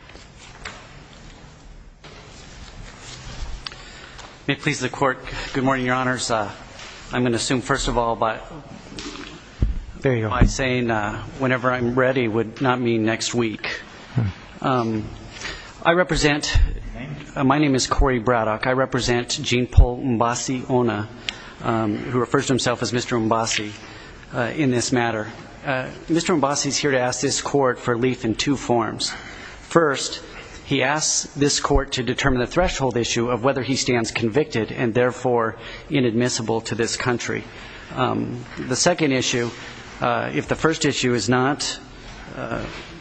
I represent Gene Paul Mboussi-Ona, who refers to himself as Mr. Mboussi in this matter. Mr. Mboussi is here to ask this court for relief in two forms. First, he asks this court to determine the threshold issue of whether he stands convicted and therefore inadmissible to this country. The second issue, if the first issue is not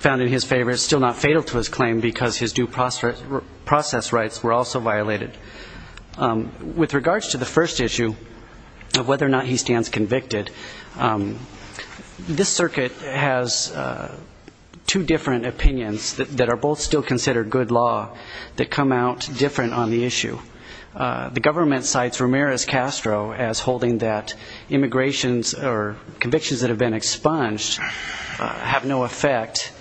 found in his favor, is still not fatal to his claim because his due process rights were also violated. With regards to the first issue of whether or not he stands convicted, this circuit has two different opinions that are both still considered good law that come out different on the issue. The government cites Ramirez-Castro as holding that convictions that have been expunged have no effect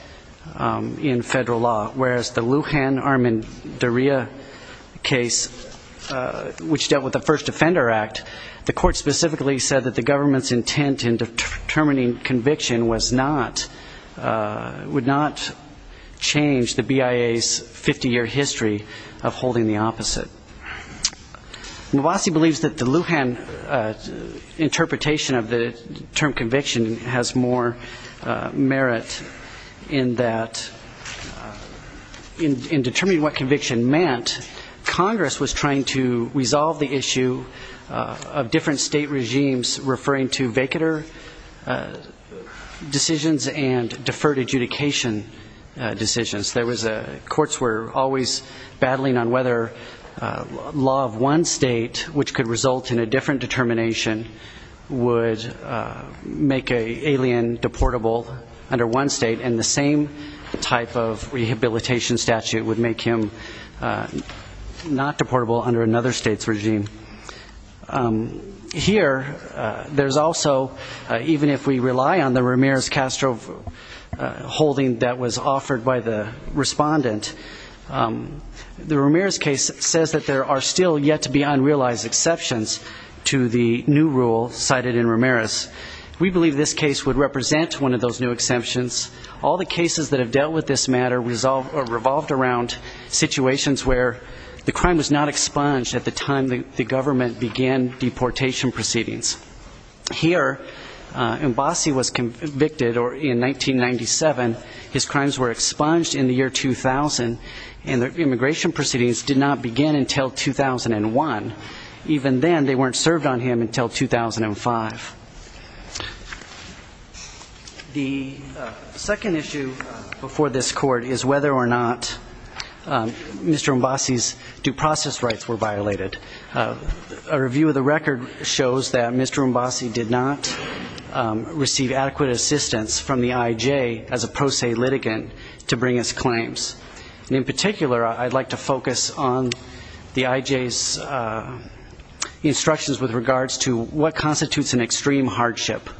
in federal law. Whereas the Lujan-Armendaria case, which dealt with the First Offender Act, the court specifically said that the government's intent in determining conviction would not change the BIA's 50-year history of holding the opposite. Mboussi believes that the Lujan interpretation of the term conviction has more merit in that in determining what conviction meant, Congress was trying to resolve the issue of different state regimes referring to vacatur decisions and deferred adjudication decisions. Courts were always battling on whether law of one state, which could result in a different determination, would make an alien deportable under one state and the same type of rehabilitation statute would make him not deportable under another state's regime. Here, there's also, even if we rely on the Ramirez-Castro holding that was offered by the respondent, the Ramirez case says that there are still yet to be unrealized exceptions to the new rule cited in Ramirez. We believe this case would represent one of those new exemptions. All the cases that have dealt with this matter revolved around situations where the crime was not expunged at the time the government began deportation proceedings. Here, Mboussi was convicted in 1997, his crimes were expunged in the year 2000, and the immigration proceedings did not begin until 2001. Even then, they weren't served on him until 2005. The second issue before this court is whether or not Mr. Mboussi's due process rights were violated. A review of the record shows that Mr. Mboussi did not receive adequate assistance from the IJ as a pro se litigant to bring his claims. In particular, I'd like to focus on the IJ's instructions with regards to what constitutes an extreme hardship.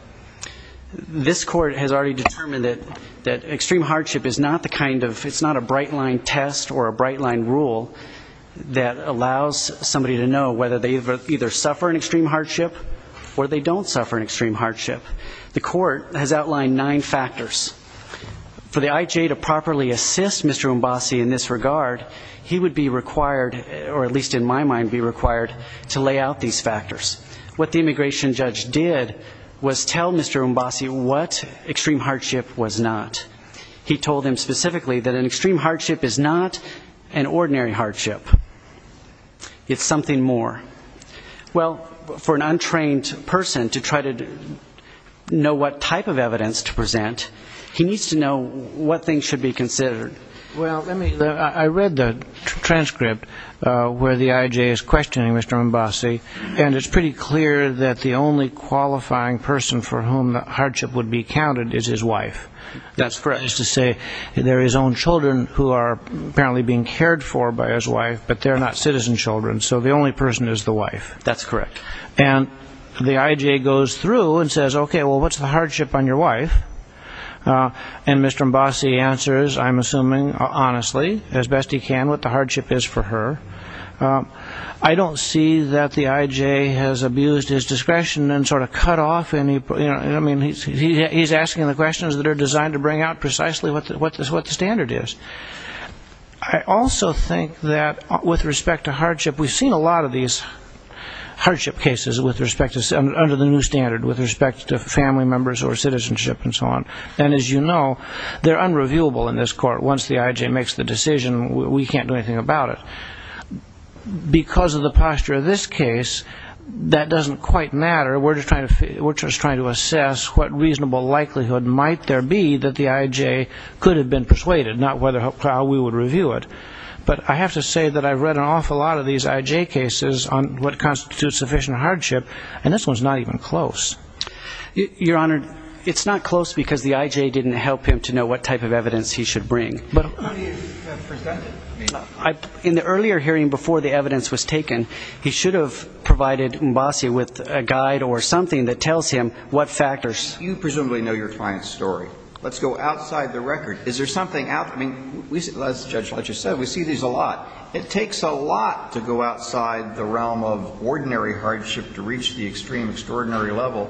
This court has already determined that extreme hardship is not the kind of, it's not a bright line test or a bright line rule that allows somebody to know whether they either suffer an extreme hardship or they don't suffer an extreme hardship. The court has outlined nine factors. For the IJ to properly assist Mr. Mboussi in this regard, he would be required, or at least in my mind, be required to lay out these factors. What the immigration judge did was tell Mr. Mboussi what extreme hardship was not. He told him specifically that an extreme hardship is not an ordinary hardship. It's something more. Well, for an untrained person to try to know what type of evidence to present, he needs to know what things should be considered. Well, let me, I read the transcript where the IJ is questioning Mr. Mboussi, and it's pretty clear that the only qualifying person for whom the hardship would be counted is his wife. That's correct. That is to say, there are his own children who are apparently being cared for by his wife, but they're not citizen children, so the only person is the wife. That's correct. And the IJ goes through and says, okay, well, what's the hardship on your wife? And Mr. Mboussi answers, I'm assuming honestly, as best he can, what the hardship is for her. I don't see that the IJ has abused his discretion and sort of cut off any, I mean, he's asking the questions that are designed to bring out precisely what the standard is. I also think that with respect to hardship, we've seen a lot of these hardship cases with respect to, under the new standard, with respect to family members or citizenship and so on. And as you know, they're unreviewable in this court. Once the IJ makes the decision, we can't do anything about it. Because of the posture of this case, that doesn't quite matter. We're just trying to assess what reasonable likelihood might there be that the IJ could have been persuaded, not how we would review it. But I have to say that I've read an awful lot of these IJ cases on what constitutes sufficient hardship, and this one's not even close. Your Honor, it's not close because the IJ didn't help him to know what type of evidence he should bring. But in the earlier hearing before the evidence was taken, he should have provided Mbassi with a guide or something that tells him what factors. You presumably know your client's story. Let's go outside the record. Is there something out there? I mean, let's judge what you said. We see these a lot. It takes a lot to go outside the realm of ordinary hardship to reach the extreme extraordinary level.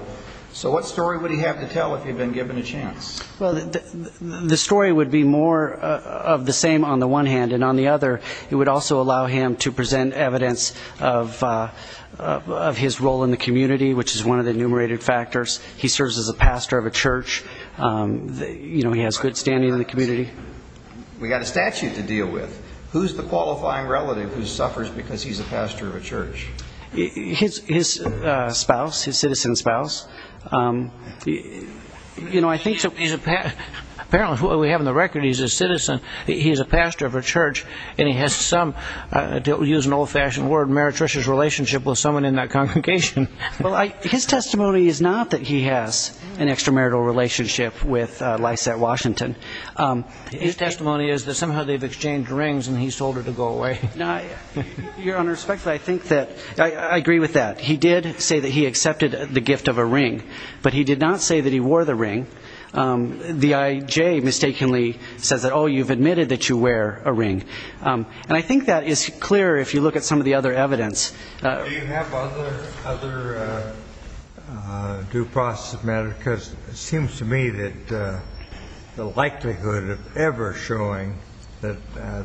So what story would he have to tell if he had been given a chance? Well, the story would be more of the same on the one hand. And on the other, it would also allow him to present evidence of his role in the community, which is one of the enumerated factors. He serves as a pastor of a church. He has good standing in the community. We've got a statute to deal with. Who's the qualifying relative who suffers because he's a pastor of a church? His spouse, his citizen spouse. You know, I think apparently what we have on the record, he's a citizen, he's a pastor of a church, and he has some, to use an old-fashioned word, meretricious relationship with someone in that congregation. Well, his testimony is not that he has an extramarital relationship with Lysette Washington. His testimony is that somehow they've exchanged rings and he's told her to go away. You're unrespectful. I think that I agree with that. He did say that he accepted the gift of a ring, but he did not say that he wore the ring. The IJ mistakenly says that, oh, you've admitted that you wear a ring. And I think that is clear if you look at some of the other evidence. Do you have other due process matters? Because it seems to me that the likelihood of ever showing that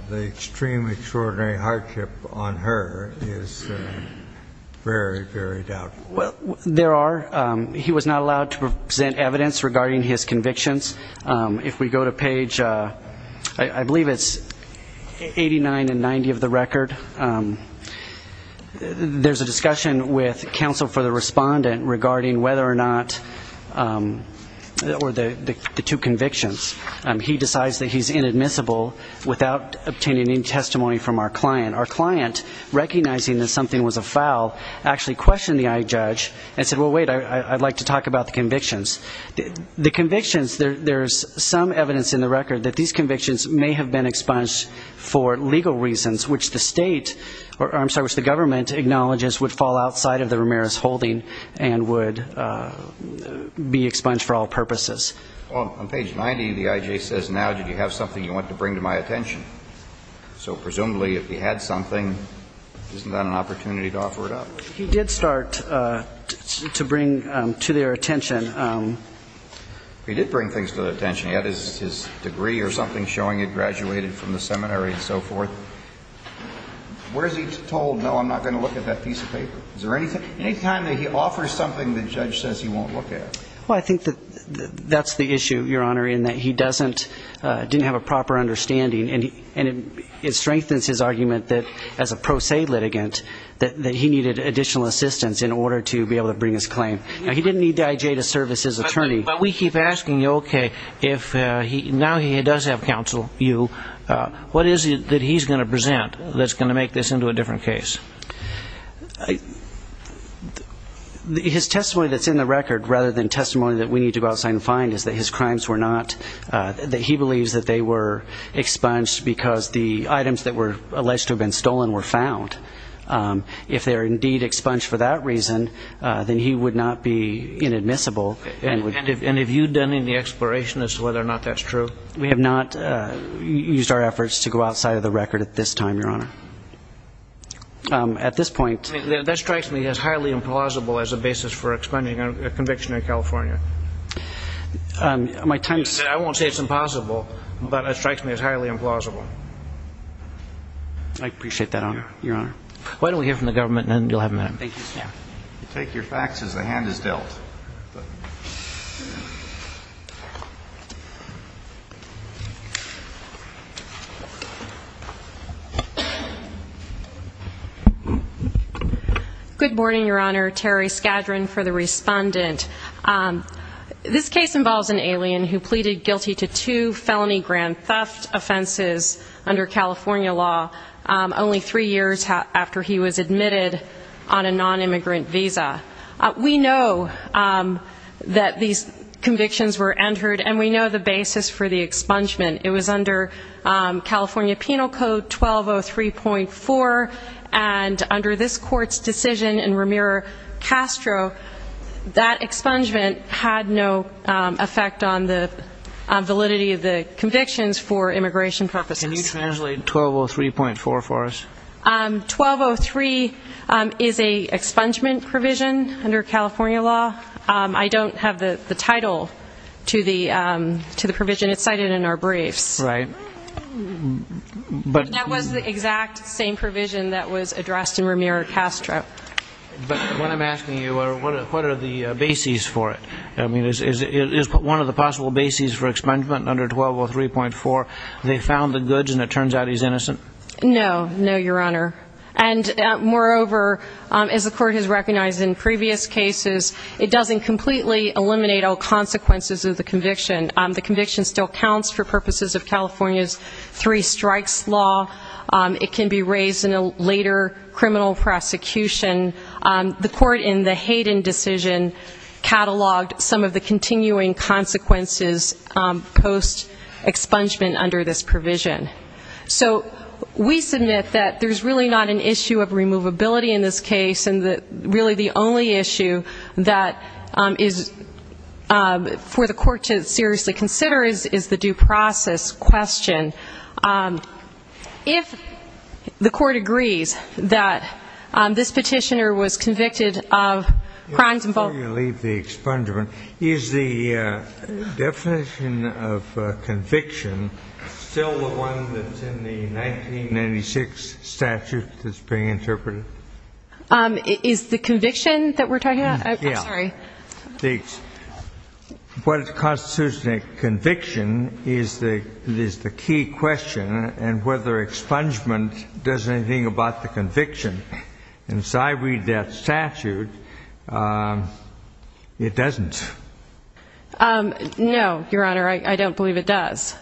the extreme extraordinary hardship on her is very, very doubtful. Well, there are. He was not allowed to present evidence regarding his convictions. If we go to page, I believe it's 89 and 90 of the record, there's a discussion with counsel for the respondent regarding whether or not the two convictions. He decides that he's inadmissible without obtaining any testimony from our client. Our client, recognizing that something was afoul, actually questioned the IJ judge and said, well, wait, I'd like to talk about the convictions. The convictions, there's some evidence in the record that these convictions may have been expunged for legal reasons, which the state or, I'm sorry, which the government acknowledges would fall outside of the Ramirez holding and would be expunged for all purposes. Well, on page 90, the IJ says, now, did you have something you wanted to bring to my attention? So presumably, if he had something, isn't that an opportunity to offer it up? He did start to bring to their attention. He did bring things to their attention. He had his degree or something showing he'd graduated from the seminary and so forth. Where is he told, no, I'm not going to look at that piece of paper? Is there any time that he offers something the judge says he won't look at? Well, I think that that's the issue, Your Honor, in that he didn't have a proper understanding, and it strengthens his argument that, as a pro se litigant, that he needed additional assistance in order to be able to bring his claim. Now, he didn't need the IJ to serve as his attorney. But we keep asking you, okay, now he does have counsel, you, what is it that he's going to present that's going to make this into a different case? His testimony that's in the record, rather than testimony that we need to go outside and find, is that his crimes were not, that he believes that they were expunged because the items that were alleged to have been stolen were found. If they are indeed expunged for that reason, then he would not be inadmissible. And have you done any exploration as to whether or not that's true? We have not used our efforts to go outside of the record at this time, Your Honor. That strikes me as highly implausible as a basis for expunging a conviction in California. I won't say it's impossible, but it strikes me as highly implausible. I appreciate that, Your Honor. Why don't we hear from the government, and then you'll have a minute. Thank you, sir. You take your facts as the hand is dealt. Good morning, Your Honor. Terry Skadron for the respondent. This case involves an alien who pleaded guilty to two felony grand theft offenses under California law, only three years after he was admitted on a nonimmigrant visa. We know that these convictions were entered, and we know the basis for the expungement. It was under California Penal Code 1203.4, and under this court's decision in Ramiro Castro, that expungement had no effect on the validity of the convictions for immigration purposes. Can you translate 1203.4 for us? 1203 is an expungement provision under California law. I don't have the title to the provision. It's cited in our briefs. That was the exact same provision that was addressed in Ramiro Castro. But what I'm asking you, what are the bases for it? I mean, is one of the possible bases for expungement under 1203.4, they found the goods and it turns out he's innocent? No, no, Your Honor. And moreover, as the court has recognized in previous cases, it doesn't completely eliminate all consequences of the conviction. The conviction still counts for purposes of California's three strikes law. It can be raised in a later criminal prosecution. The court in the Hayden decision cataloged some of the continuing consequences post expungement under this provision. So we submit that there's really not an issue of removability in this case, and really the only issue that is for the court to seriously consider is the due process question. If the court agrees that this petitioner was convicted of crimes involving- Before you leave the expungement, is the definition of conviction still the one that's in the 1996 statute that's being interpreted? Is the conviction that we're talking about? Yeah. I'm sorry. What constitutes a conviction is the key question, and whether expungement does anything about the conviction. And so I read that statute, it doesn't. No, Your Honor, I don't believe it does.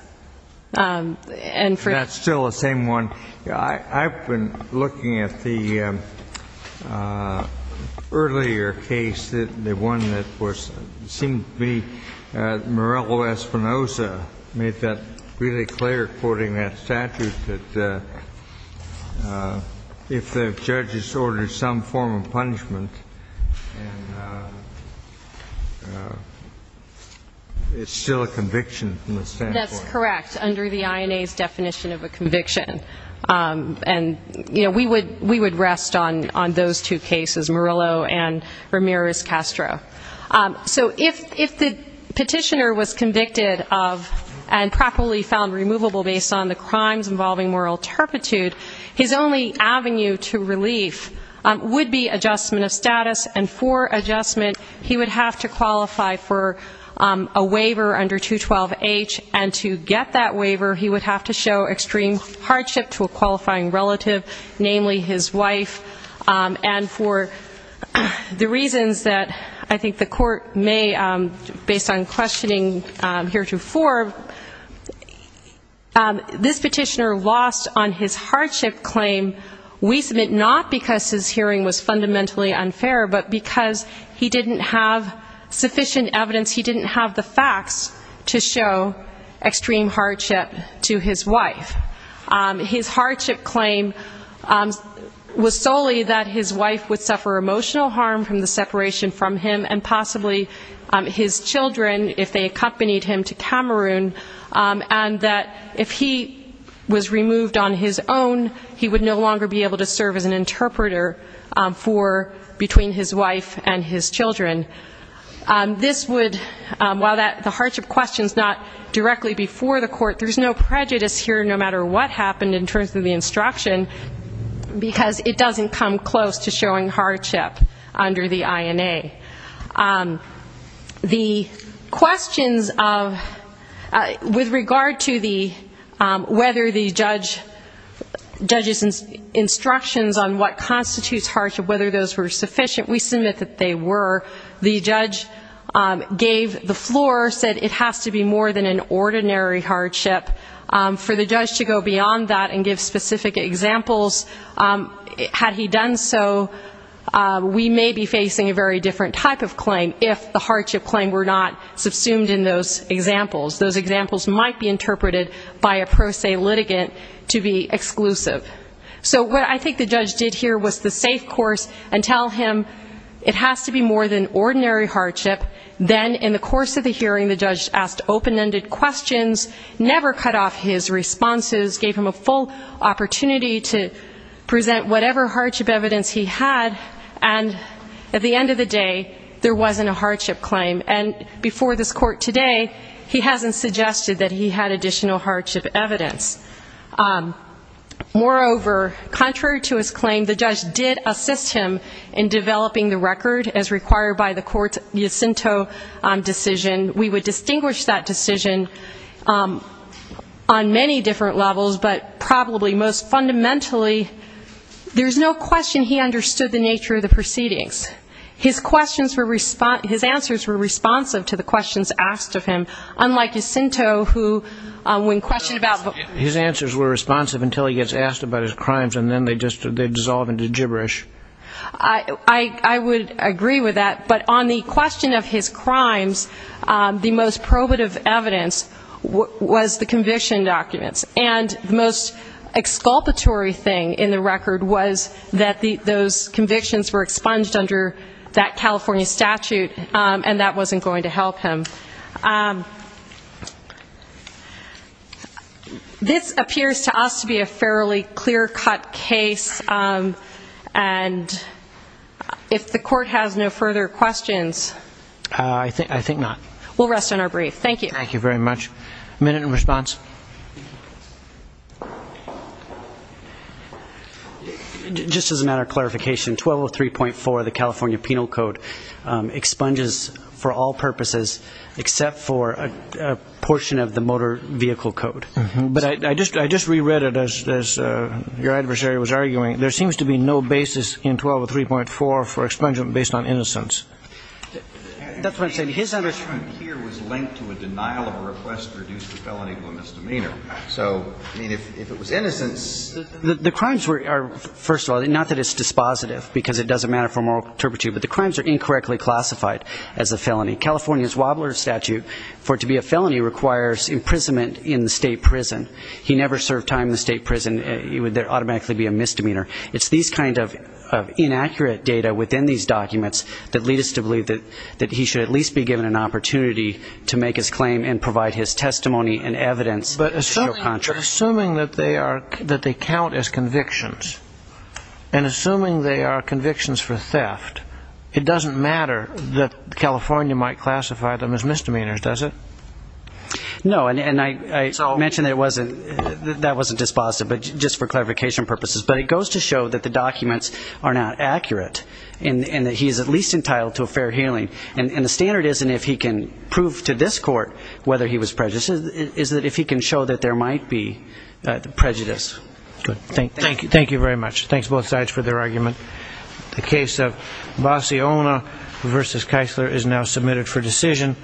That's still the same one? I've been looking at the earlier case, the one that seemed to be Morello-Espinosa, made that really clear, quoting that statute, that if the judge has ordered some form of punishment, it's still a conviction from the standpoint- We would rest on those two cases, Morello and Ramirez-Castro. So if the petitioner was convicted of and properly found removable based on the crimes involving moral turpitude, his only avenue to relief would be adjustment of status, and for adjustment he would have to qualify for a waiver under 212H, and to get that waiver he would have to show extreme hardship to a qualifying relative, namely his wife, and for the reasons that I think the court may, based on questioning heretofore, this petitioner lost on his hardship claim. We submit not because his hearing was fundamentally unfair, but because he didn't have sufficient evidence, he didn't have the facts to show extreme hardship to his wife. His hardship claim was solely that his wife would suffer emotional harm from the separation from him and possibly his children if they accompanied him to Cameroon, and that if he was removed on his own, he would no longer be able to serve as an interpreter between his wife and his children. This would, while the hardship question is not directly before the court, there's no prejudice here no matter what happened in terms of the instruction because it doesn't come close to showing hardship under the INA. The questions with regard to whether the judge's instructions on what constitutes hardship, whether those were sufficient, we submit that they were. The judge gave the floor, said it has to be more than an ordinary hardship. For the judge to go beyond that and give specific examples, had he done so we may be facing a very different type of claim if the hardship claim were not subsumed in those examples. Those examples might be interpreted by a pro se litigant to be exclusive. So what I think the judge did here was the safe course and tell him it has to be more than ordinary hardship. Then in the course of the hearing the judge asked open-ended questions, never cut off his responses, gave him a full opportunity to present whatever hardship evidence he had, and at the end of the day there wasn't a hardship claim. And before this court today he hasn't suggested that he had additional hardship evidence. Moreover, contrary to his claim, the judge did assist him in developing the record as required by the court's Jacinto decision. We would distinguish that decision on many different levels, but probably most fundamentally there's no question he understood the nature of the proceedings. His answers were responsive to the questions asked of him, unlike Jacinto who when questioned about the... His answers were responsive until he gets asked about his crimes and then they just dissolve into gibberish. I would agree with that, but on the question of his crimes, the most probative evidence was the conviction documents. And the most exculpatory thing in the record was that those convictions were expunged under that California statute, and that wasn't going to help him. This appears to us to be a fairly clear-cut case, and if the court has no further questions... I think not. We'll rest on our brief. Thank you. Thank you very much. A minute in response. Just as a matter of clarification, 1203.4, the California Penal Code, expunges for all purposes except for a portion of the motor vehicle code. But I just reread it as your adversary was arguing. There seems to be no basis in 1203.4 for expungement based on innocence. That's what I'm saying. His understanding here was linked to a denial of a request to reduce the felony to a misdemeanor. So, I mean, if it was innocence... The crimes are, first of all, not that it's dispositive, because it doesn't matter for moral turpitude, but the crimes are incorrectly classified as a felony. California's Wobbler statute for it to be a felony requires imprisonment in the state prison. He never served time in the state prison. It would automatically be a misdemeanor. It's these kinds of inaccurate data within these documents that lead us to believe that he should at least be given an opportunity to make his claim and provide his testimony and evidence. But assuming that they count as convictions, and assuming they are convictions for theft, it doesn't matter that California might classify them as misdemeanors, does it? No, and I mentioned that wasn't dispositive, but just for clarification purposes. But it goes to show that the documents are not accurate, and that he is at least entitled to a fair hearing. And the standard isn't if he can prove to this court whether he was prejudiced. It's that if he can show that there might be prejudice. Thank you very much. Thanks, both sides, for their argument. The case of Bassiona v. Keisler is now submitted for decision.